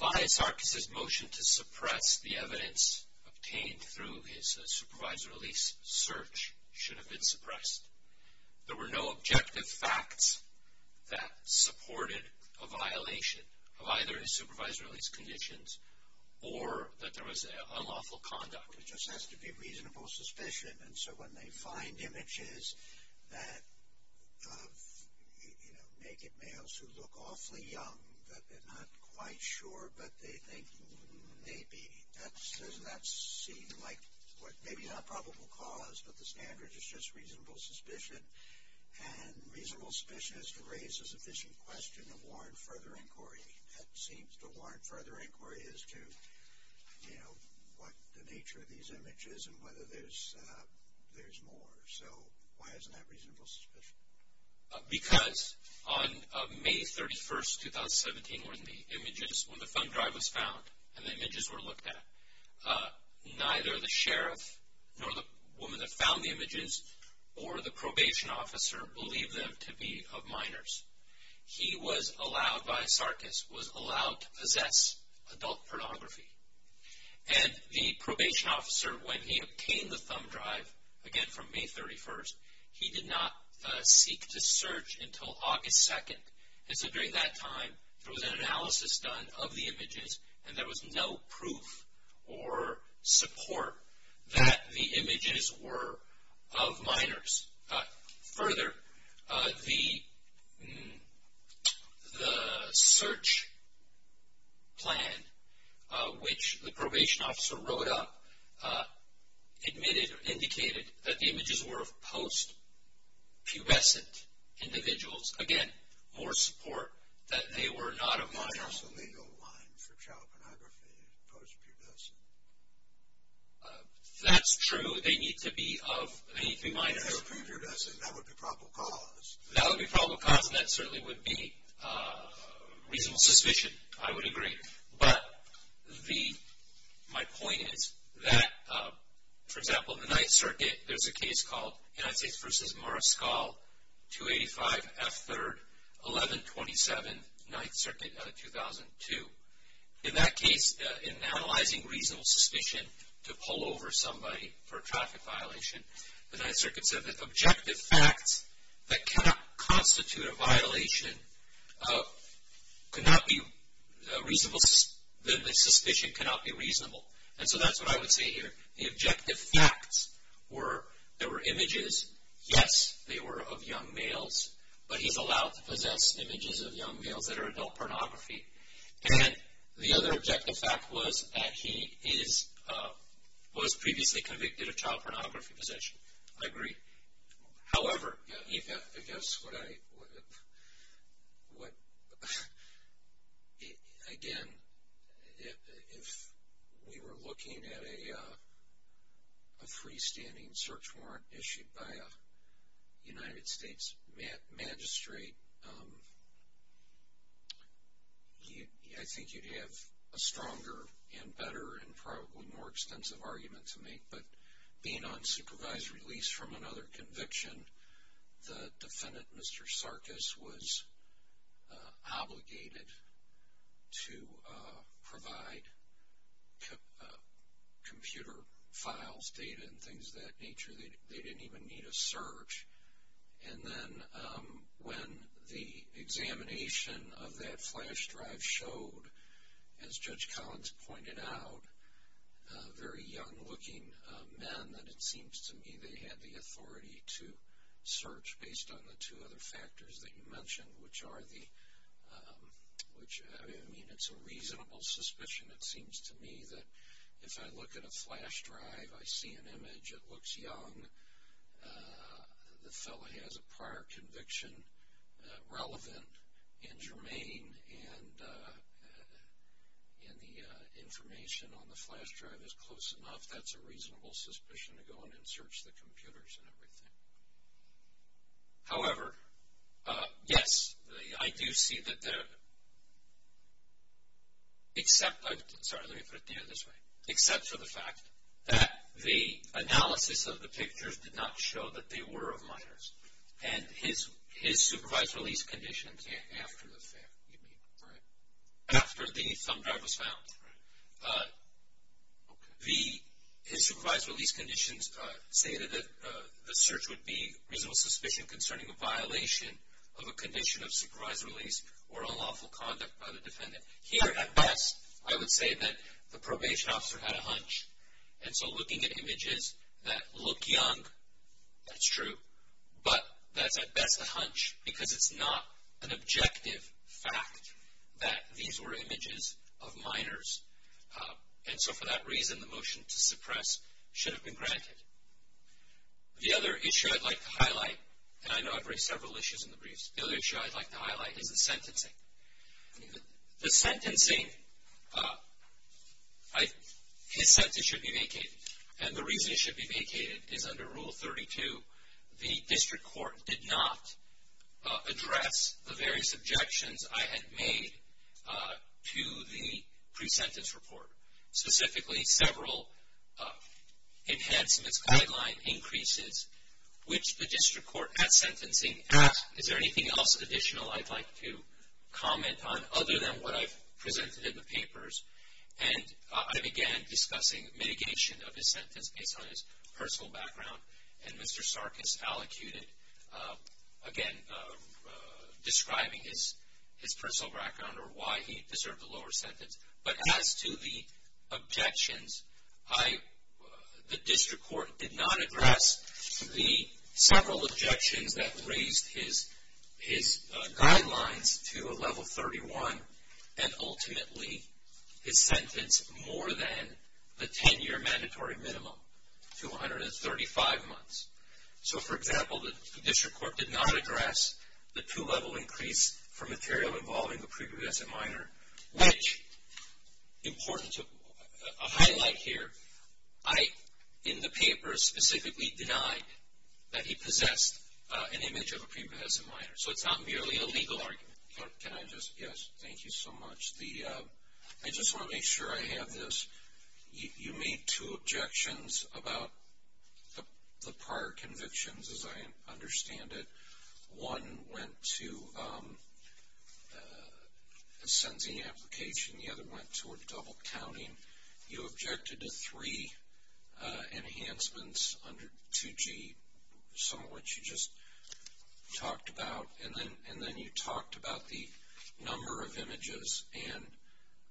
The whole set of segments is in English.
Vahe Sarkiss' motion to suppress the evidence obtained through his supervisor-release search should have been suppressed. There were no objective facts that supported a violation of either his supervisor-release conditions or that there was unlawful conduct. There just has to be reasonable suspicion. And so when they find images that of, you know, naked males who look awfully young, that they're not quite sure, but they think, maybe, that's, that's seen like what, maybe not probable cause, but the standard is just reasonable suspicion. And reasonable suspicion is to raise a sufficient question of war and further inquiry. That seems to warrant further inquiry as to, you know, what the nature of these images and whether there's, there's more. So why isn't that reasonable suspicion? Because on May 31, 2017, when the images, when the thumb drive was found and the images were looked at, neither the sheriff nor the woman that found the images or the probation officer believed them to be of minors. He was allowed by Sarkiss, was allowed to possess adult pornography. And the probation officer, when he obtained the thumb drive, again from May 31st, he did not seek to search until August 2nd. And so during that time, there was an analysis done of the images and there was no proof or support that the images were of minors. Further, the, the search plan, which the probation officer wrote up, admitted or indicated that the images were of post-pubescent individuals. Again, more support that they were not of minors. It's a legal line for child pornography, post-pubescent. That's true. They need to be of, they need to be minors. If they were pre-pubescent, that would be probable cause. That would be probable cause and that certainly would be reasonable suspicion, I would agree. But the, my point is that, for example, the Ninth Circuit, there's a case called United States v. Mariscal, 285 F. 3rd, 1127, Ninth Circuit, 2002. In that case, in analyzing reasonable suspicion to pull over somebody for a traffic violation, the Ninth Circuit said that objective facts that cannot constitute a violation could not be reasonable, that the suspicion cannot be reasonable. And so that's what I would say here. The objective facts were there were images, yes, they were of young males, but he's allowed to possess images of young males that are adult pornography. And the other objective fact was that he is, was previously convicted of child pornography possession. I agree. However, I guess what I, what, again, if we were looking at a freestanding search warrant issued by a United States magistrate, I think you'd have a stronger and better and probably more extensive argument to make. But being on supervised release from another conviction, the defendant, Mr. Sarkis, was they didn't even need a search. And then when the examination of that flash drive showed, as Judge Collins pointed out, very young looking men that it seems to me they had the authority to search based on the two other factors that you mentioned, which are the, which I mean, it's a reasonable suspicion, it seems to me that if I look at a flash drive, I see an image, it looks young, the fellow has a prior conviction, relevant and germane, and and the information on the flash drive is close enough, that's a reasonable suspicion to go in and search the computers and everything. However, yes, I do see that there, except, I'm sorry, let me put it the other way, except for the fact that the analysis of the pictures did not show that they were of minors. And his supervised release conditions after the fact, you mean, right? After the thumb drive was found. His supervised release conditions stated that the search would be reasonable suspicion concerning a violation of a condition of conduct by the defendant. Here, at best, I would say that the probation officer had a hunch. And so looking at images that look young, that's true, but that's at best a hunch because it's not an objective fact that these were images of minors. And so for that reason, the motion to suppress should have been granted. The other issue I'd like to highlight, and I know I've raised several issues in the briefs, the other issue I'd like to highlight is the sentencing. The sentencing, his sentence should be vacated. And the reason it should be vacated is under Rule 32, the district court did not address the various objections I had made to the pre-sentence report. Specifically, several enhancements, guideline increases, which the district court at sentencing asked, is there anything else additional I'd like to comment on other than what I've presented in the papers? And I began discussing mitigation of his sentence based on his personal background. And Mr. Sarkis allocated, again, describing his personal background or why he deserved a lower sentence. But as to the objections, the district court did not address the several objections that raised his guidelines to a level 31 and ultimately his sentence more than the 10-year mandatory minimum to 135 months. So for example, the district court did not address the two-level increase for material involving a pre-pubescent minor, which, important to highlight here, I, in the paper, specifically denied that he possessed an image of a pre-pubescent minor. So it's not merely a legal argument. Can I just, yes, thank you so much. I just want to make sure I have this. You made two objections about the prior convictions, as I understand it. One went to a sentencing application. The other went toward double counting. You objected to three enhancements under 2G, some of which you just talked about. And then you talked about the number of images. And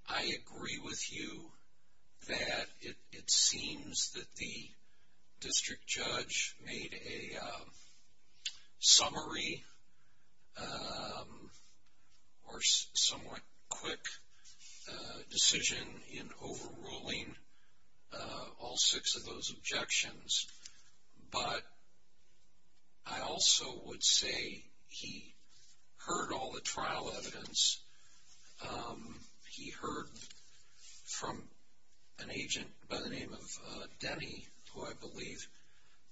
I agree with you that it seems that the district judge made a summary or somewhat quick decision in overruling all six of those objections. But I also would say he heard all the trial evidence. He heard from an agent by the name of Denny, who I believe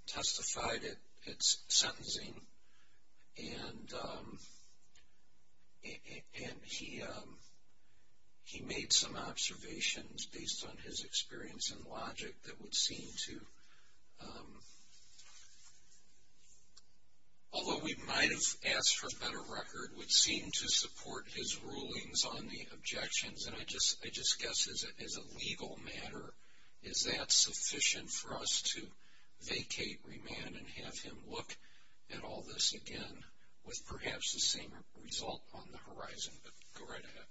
testified at sentencing. And he made some observations based on his experience and logic that would seem to, although we might have asked for a better record, would seem to us to vacate, remand, and have him look at all this again with perhaps the same result on the horizon. But go right ahead.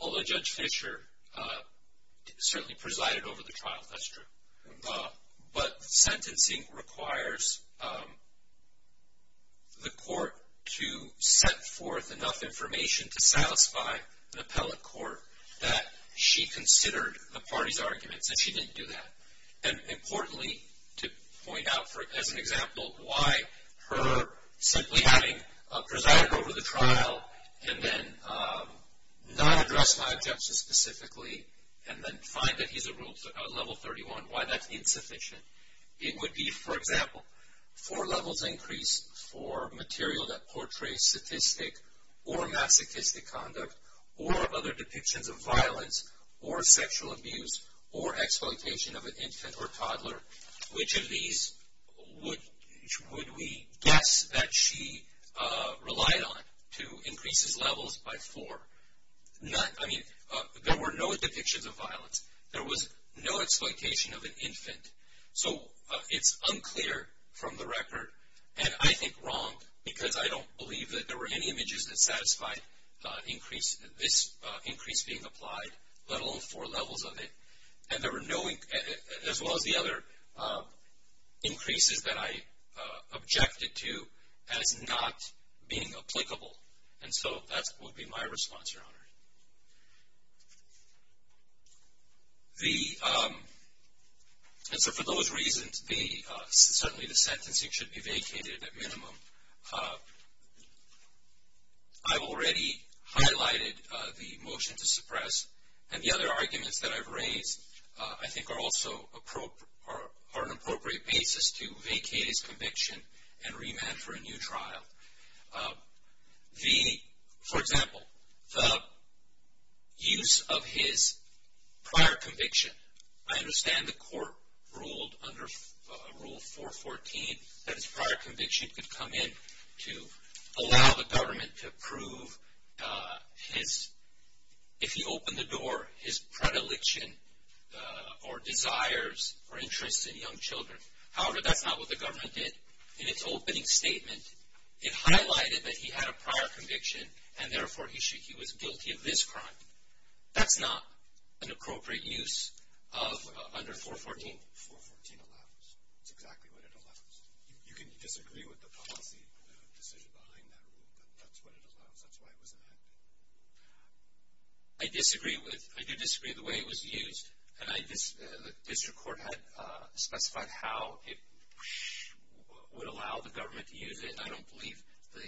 Although Judge Fisher certainly presided over the trial, that's true. But sentencing requires the court to set forth enough information to satisfy an appellate court that she considered the party's arguments. And she didn't do that. And importantly, to point out as an example, why her simply having presided over the trial and then not address my objections specifically, and then find that he's a level 31, why that's insufficient. It would be, for example, for levels increased for material that portrays statistic or masochistic conduct, or other depictions of violence, or sexual abuse, or exploitation of an infant or toddler. Which of these would we guess that she relied on to increase his levels by four? I mean, there were no depictions of violence. There was no exploitation of an infant. So it's unclear from the record, and I think wrong, because I don't believe that there were any this increase being applied, let alone four levels of it. And there were no, as well as the other, increases that I objected to as not being applicable. And so that would be my response, Your Honor. And so for those reasons, certainly the sentencing should be vacated at minimum. I've already highlighted the motion to suppress, and the other arguments that I've raised, I think are also an appropriate basis to vacate his conviction and remand for a new trial. For example, the use of his prior conviction. I understand the court ruled under Rule 414, that his prior conviction could come in to allow the government to prove his, if he opened the door, his predilection, or desires, or interests in young children. However, that's not what the government did. In its opening statement, it highlighted that he had a prior conviction, and therefore he was guilty of this crime. That's not an appropriate use of under 414. 414 allows. That's exactly what it allows. You can disagree with the policy decision behind that rule, but that's what it allows. That's why it was amended. I disagree with, I do disagree with the way it was used. And I, the district court had specified how it would allow the government to use it, and I don't believe the,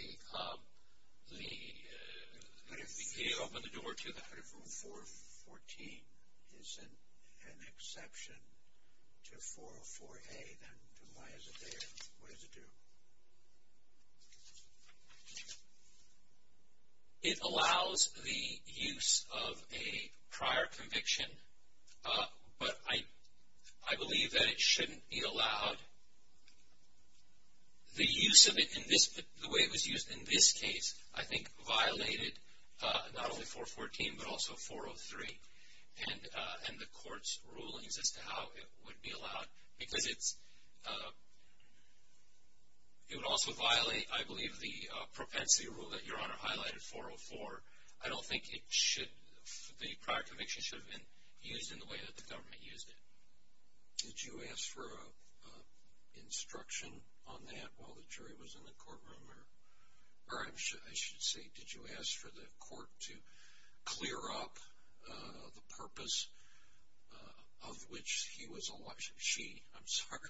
that if he opened the door to the 414 is an exception to 404A, then why is it there? What does it do? It allows the use of a prior conviction, but I believe that it shouldn't be allowed. Now, the use of it in this, the way it was used in this case, I think violated not only 414, but also 403, and the court's rulings as to how it would be allowed, because it's, it would also violate, I believe, the propensity rule that Your Honor highlighted, 404. I don't think it should, the prior conviction should have been used in the way that the instruction on that while the jury was in the courtroom, or, or I should say, did you ask for the court to clear up the purpose of which he was, she, I'm sorry,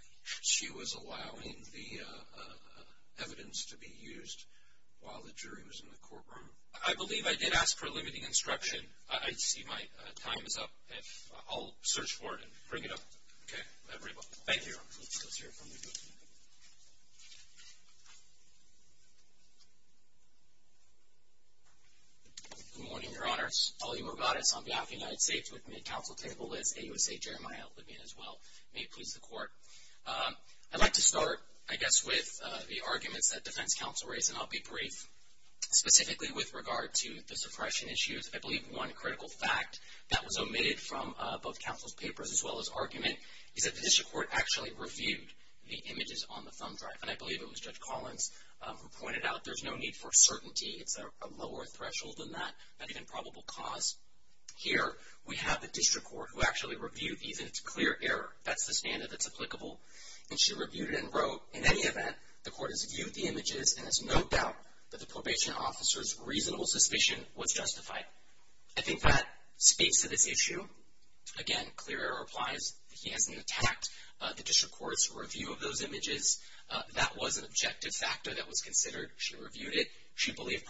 she was allowing the evidence to be used while the jury was in the courtroom? I believe I did ask for limiting instruction. I see my time is up, and I'll search for it and Okay. Thank you. Good morning, Your Honors. Paul E. Morgadis on behalf of the United States with Mid-Council Table List, AUSA, Jeremiah Libyan as well. May it please the court. I'd like to start, I guess, with the arguments that defense counsel raised, and I'll be brief, specifically with regard to the suppression issues. I believe one critical fact that was is that the district court actually reviewed the images on the thumb drive, and I believe it was Judge Collins who pointed out there's no need for certainty. It's a lower threshold than that, not even probable cause. Here, we have the district court who actually reviewed these, and it's clear error. That's the standard that's applicable, and she reviewed it and wrote, in any event, the court has viewed the images, and there's no doubt that the probation officer's reasonable suspicion was justified. I think that speaks to this issue. Again, clear error applies that he hasn't attacked the district court's review of those images. That was an objective factor that was considered. She reviewed it. She believed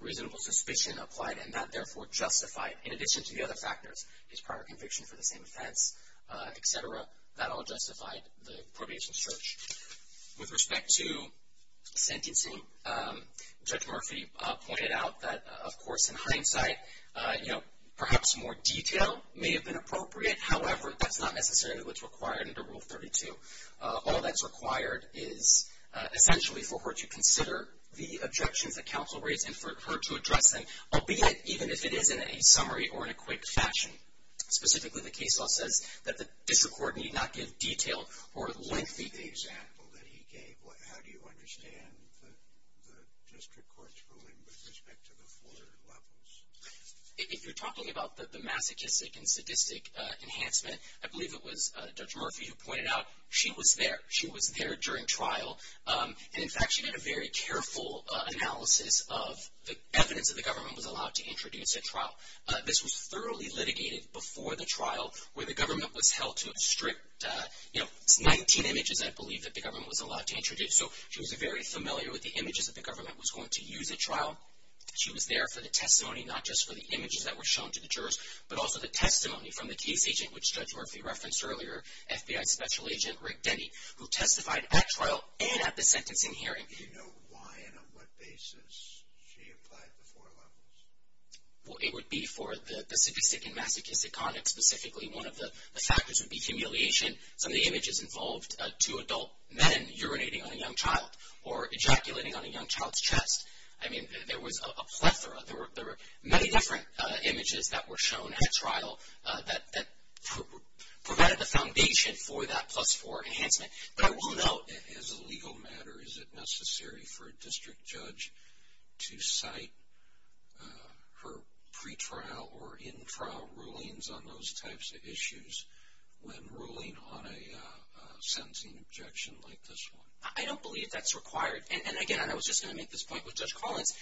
reasonable suspicion applied, and that, therefore, justified, in addition to the other factors, his prior conviction for the same offense, et cetera. That all justified the probation search. With respect to sentencing, Judge Murphy pointed out that, of course, in hindsight, perhaps more detail may have been appropriate. However, that's not necessarily what's required under Rule 32. All that's required is, essentially, for her to consider the objections that counsel raised and for her to address them, albeit even if it is in a summary or in a quick fashion. Specifically, the case law says that the district court need not give detailed or lengthy- Given the example that he gave, how do you understand the district court's ruling with respect to the four levels? If you're talking about the masochistic and sadistic enhancement, I believe it was Judge Murphy who pointed out she was there. She was there during trial. In fact, she did a very careful analysis of the evidence that the government was allowed to introduce at trial. This was thoroughly litigated before the trial, where the government was held to strict 19 images, I believe, that the government was allowed to introduce. She was very familiar with the images that the government was going to use at trial. She was there for the testimony, not just for the images that were shown to the jurors, but also the testimony from the case agent, which Judge Murphy referenced earlier, FBI Special Agent Rick Denny, who testified at trial and at the sentencing hearing. Do you know why and on what basis she applied the four levels? Well, it would be for the sadistic and masochistic conduct specifically. One of the factors would be humiliation. Some of the images involved two adult men urinating on a young child or ejaculating on a young child's chest. I mean, there was a plethora. There were many different images that were shown at trial that provided the foundation for that plus four enhancement, but I will note... As a legal matter, is it necessary for a district judge to cite her pre-trial or in-trial rulings on those types of issues when ruling on a sentencing objection like this one? I don't believe that's required. And again, and I was just going to make this point with Judge Collins.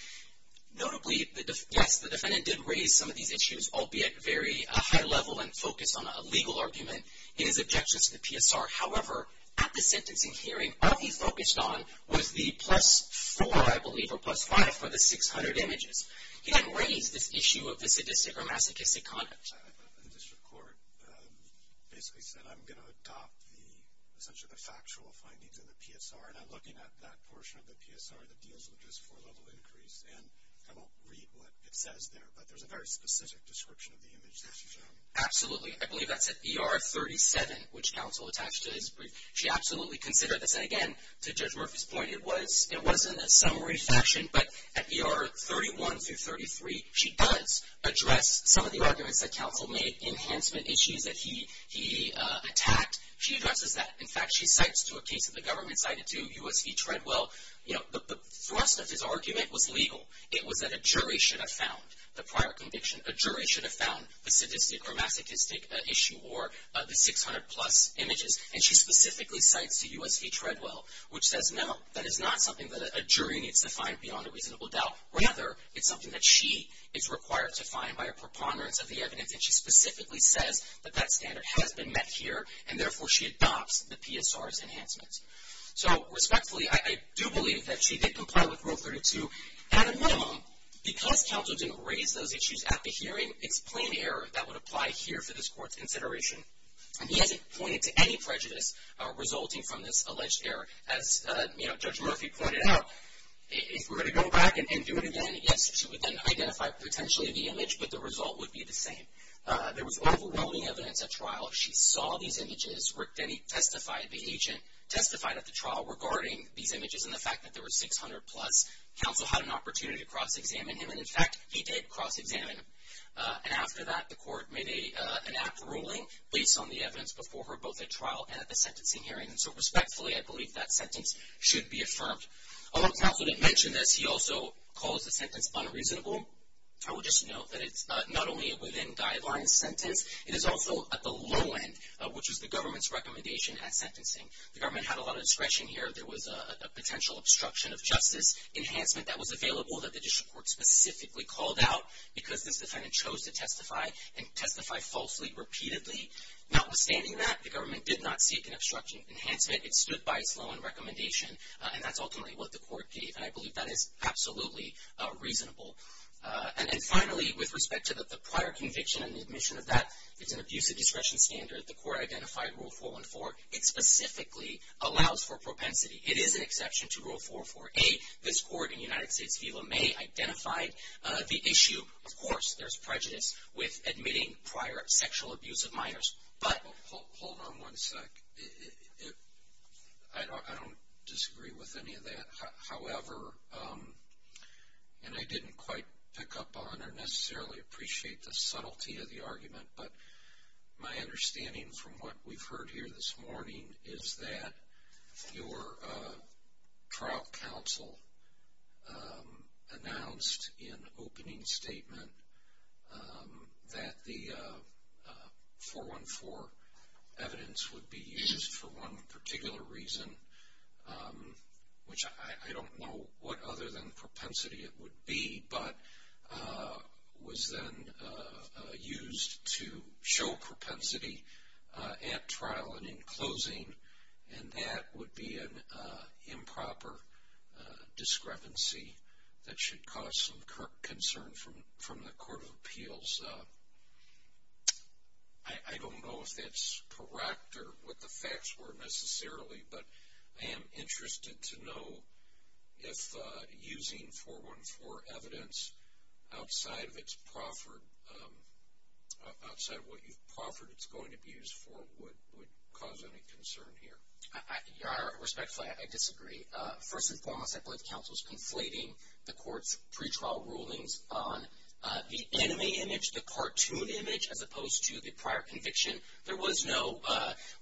Notably, yes, the defendant did raise some of these issues, albeit very high level and focused on a legal argument in his objections to the PSR. However, at the sentencing hearing, all he focused on was the plus four, I believe, or plus five for the 600 images. He didn't raise this issue of the sadistic or masochistic conduct. The district court basically said, I'm going to adopt the, essentially, the factual findings in the PSR, and I'm looking at that portion of the PSR that deals with this four-level increase, and I won't read what it says there, but there's a very specific description of the image that's shown. Absolutely. I believe that's at ER 37, which counsel attached to this brief. She absolutely considered this, and again, to Judge Murphy's point, it was in a summary fashion, but at the arguments that counsel made, enhancement issues that he attacked, she addresses that. In fact, she cites to a case that the government cited to U.S. v. Treadwell, the thrust of his argument was legal. It was that a jury should have found the prior conviction. A jury should have found the sadistic or masochistic issue or the 600 plus images, and she specifically cites to U.S. v. Treadwell, which says, no, that is not something that a jury needs to find beyond a reasonable doubt. Rather, it's something that she is required to find by preponderance of the evidence, and she specifically says that that standard has been met here, and therefore, she adopts the PSR's enhancement. So respectfully, I do believe that she did comply with Rule 32. At a minimum, because counsel didn't raise those issues at the hearing, it's a plain error. That would apply here for this Court's consideration, and he hasn't pointed to any prejudice resulting from this alleged error. As Judge Murphy pointed out, if we're going to go back and do it again, yes, she would then identify potentially the image, but the result would be the same. There was overwhelming evidence at trial. She saw these images, then he testified, the agent testified at the trial regarding these images and the fact that there were 600 plus. Counsel had an opportunity to cross-examine him, and in fact, he did cross-examine him. And after that, the Court made an apt ruling based on the evidence before her, both at trial and at the sentencing hearing. So respectfully, I believe that sentence should be affirmed. Although counsel didn't mention this, he also calls the sentence unreasonable. I will just note that it's not only within guidelines sentence, it is also at the low end, which is the government's recommendation at sentencing. The government had a lot of discretion here. There was a potential obstruction of justice enhancement that was available that the District Court specifically called out because this defendant chose to testify and testify falsely repeatedly. Notwithstanding that, the government did not seek an obstruction of enhancement. It stood by its low end recommendation, and that's ultimately what the Court gave, and I believe that is absolutely reasonable. And then finally, with respect to the prior conviction and admission of that, it's an abuse of discretion standard. The Court identified Rule 414. It specifically allows for propensity. It is an exception to Rule 448. This Court in United States v. LeMay identified the issue. Of course, there's prejudice with admitting prior sexual abuse of minors, but... Hold on one sec. I don't disagree with any of that. However, and I didn't quite pick up on or necessarily appreciate the subtlety of the argument, but my understanding from what we've heard here this morning is that your trial counsel announced in opening statement that the 414 evidence would be used for one particular reason, which I don't know what other than propensity it would be, but was then used to show propensity at trial and in closing, and that would be an improper discrepancy that should cause some concern from the Court of Appeals. I don't know if that's correct or what the facts were necessarily, but I am interested to know if using 414 evidence outside of what you've proffered it's going to be used for would cause any concern here. Your Honor, respectfully, I disagree. First and foremost, I believe counsel's conflating the Court's pretrial rulings on the enemy image, the cartoon image, as opposed to the prior conviction. There was no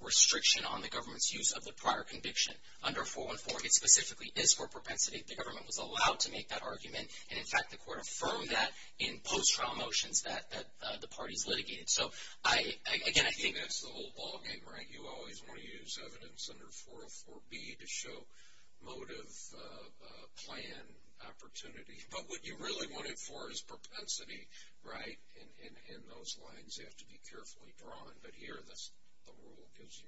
restriction on the government's use of the prior conviction. Under 414, it specifically is for propensity. The government was allowed to make that argument, and, in fact, the Court affirmed that in post-trial motions that the parties litigated. So, again, I think that's the whole ballgame, right? You always want to use evidence under 404B to show motive, plan, opportunity, but what you really want it for is propensity, right? And those lines have to be carefully drawn, but here the rule gives you...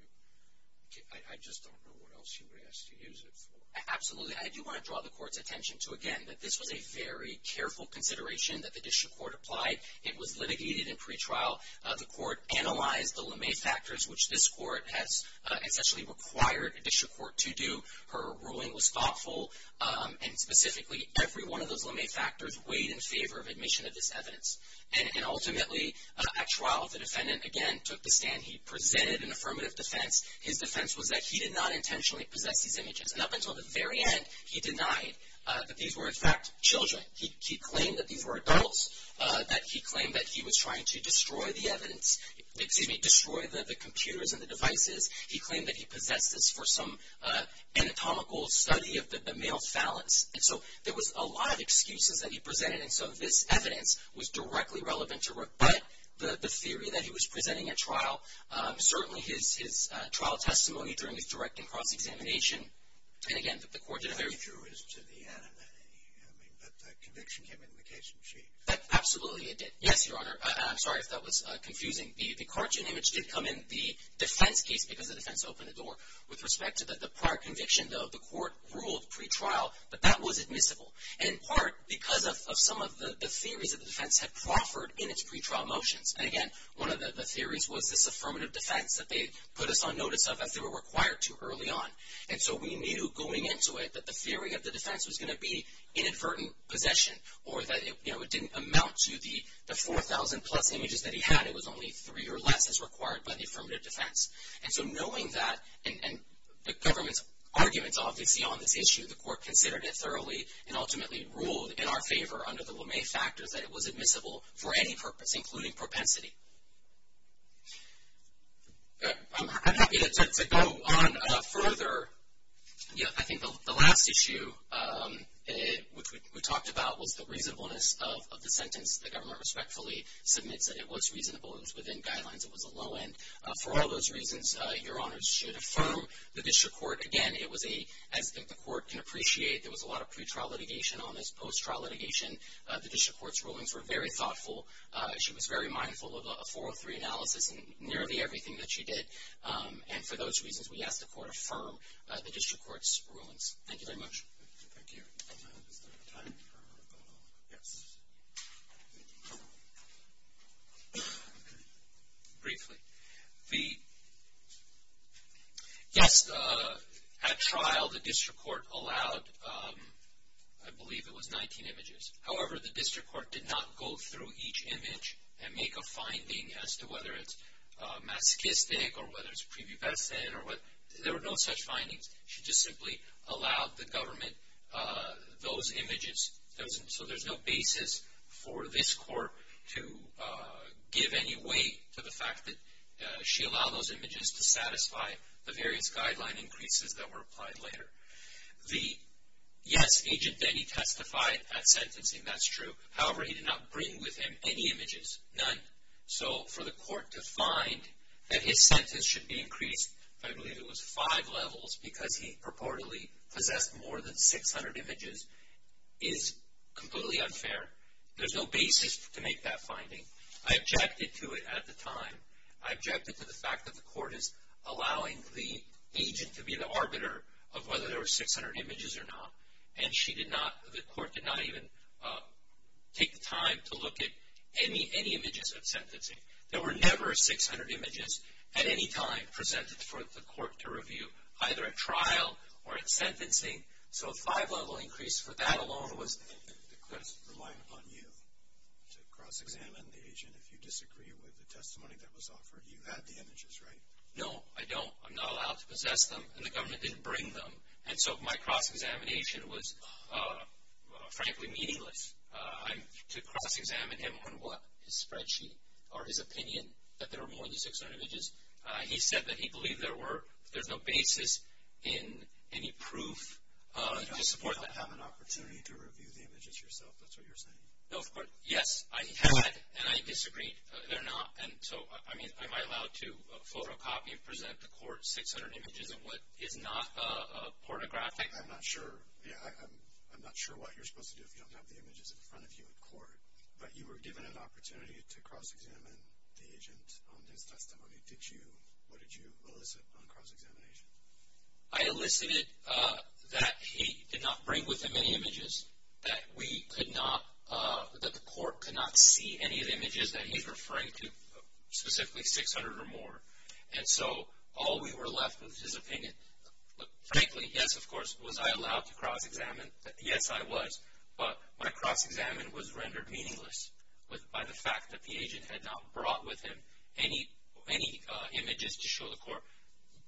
I just don't know what else you would ask to use it for. Absolutely. I do want to draw the Court's attention to, again, that this was a very careful consideration that the District Court applied. It was litigated in pretrial. The Court analyzed the LeMay factors, which this Court has essentially required a District Court to do. Her ruling was thoughtful, and, specifically, every one of those LeMay factors weighed in favor of admission of this evidence. And, ultimately, at trial, the defendant, again, took the stand. He presented an affirmative defense. His defense was that he did not He denied that these were, in fact, children. He claimed that these were adults, that he claimed that he was trying to destroy the evidence, excuse me, destroy the computers and the devices. He claimed that he possessed this for some anatomical study of the male phalanx. And so there was a lot of excuses that he presented, and so this evidence was directly relevant to Rook. But the theory that he was presenting at trial, certainly his trial testimony during his direct and cross-examination, and, again, that the Court did a very He drew his to the animating, I mean, but the conviction came in the case in sheet. That absolutely it did. Yes, Your Honor. I'm sorry if that was confusing. The cartoon image did come in the defense case because the defense opened the door. With respect to the prior conviction, though, the Court ruled pretrial, but that was admissible, in part because of some of the theories that the defense had proffered in its pretrial motions. And, again, one of the theories was this affirmative defense that they put us on notice of as they were required to early on. And so we knew going into it that the theory of the defense was going to be inadvertent possession, or that it, you know, it didn't amount to the 4,000 plus images that he had. It was only three or less as required by the affirmative defense. And so knowing that, and the government's arguments, obviously, on this issue, the Court considered it thoroughly and ultimately ruled in our favor under the LeMay factors that it was admissible for any purpose, including propensity. I'm happy to go on further. Yeah, I think the last issue, which we talked about, was the reasonableness of the sentence. The government respectfully submits that it was reasonable. It was within guidelines. It was a low end. For all those reasons, Your Honors should affirm the District Court. Again, it was a, as the Court can appreciate, there was a lot of pretrial litigation on this, post-trial litigation. The District Court's rulings were very thoughtful. She was very thoughtful in her analysis and nearly everything that she did. And for those reasons, we ask the Court affirm the District Court's rulings. Thank you very much. Thank you. Is there time for a vote on that? Yes. Briefly. Yes, at trial, the District Court allowed, I believe it was 19 images. However, the District Court, whether it's masochistic or whether it's pre-bubescent or what, there were no such findings. She just simply allowed the government those images. So there's no basis for this Court to give any weight to the fact that she allowed those images to satisfy the various guideline increases that were applied later. Yes, Agent Denny testified at sentencing. That's true. However, he did not bring with him any images, none. So for the Court to find that his sentence should be increased, I believe it was five levels because he purportedly possessed more than 600 images, is completely unfair. There's no basis to make that finding. I objected to it at the time. I objected to the fact that the Court is allowing the agent to be the arbiter of whether there were take the time to look at any images at sentencing. There were never 600 images at any time presented for the Court to review, either at trial or at sentencing. So a five-level increase for that alone was... The claim is reliant upon you to cross-examine the agent if you disagree with the testimony that was offered. You had the images, right? No, I don't. I'm not allowed to possess them, and the government didn't bring them. And so my cross-examination was frankly meaningless. To cross-examine him on what? His spreadsheet or his opinion that there were more than 600 images? He said that he believed there were. There's no basis in any proof to support that. You don't have an opportunity to review the images yourself. That's what you're saying. No, of course. Yes, I had, and I disagreed. They're not. And so, I mean, am I allowed to photocopy and present the Court 600 images of what is not pornographic? I'm not sure. Yeah, I'm not sure what you're supposed to do if you don't have the images in front of you in court. But you were given an opportunity to cross-examine the agent on his testimony. What did you elicit on cross-examination? I elicited that he did not bring with him any images, that we could not... that the Court could not see any of the images that he's referring to, specifically 600 or more. And so all we were left with was his opinion. Frankly, yes, of course. Was I allowed to cross-examine? Yes, I was. But my cross-examination was rendered meaningless by the fact that the agent had not brought with him any images to show the Court,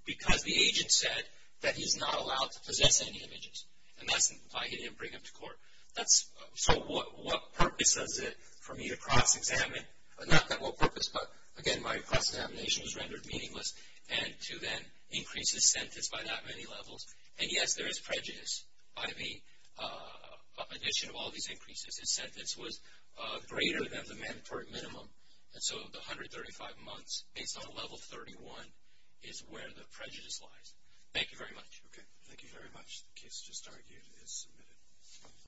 because the agent said that he's not allowed to possess any images. And that's why he didn't bring him to court. So what purpose is it for me to cross-examine? Not that what purpose, but again, my cross-examination was rendered meaningless. And to then increase his sentence by that many levels. And yes, there is prejudice by the addition of all these increases. His sentence was greater than the mandatory minimum. And so the 135 months, based on level 31, is where the prejudice lies. Thank you very much. Okay, thank you very much. The case just argued is submitted.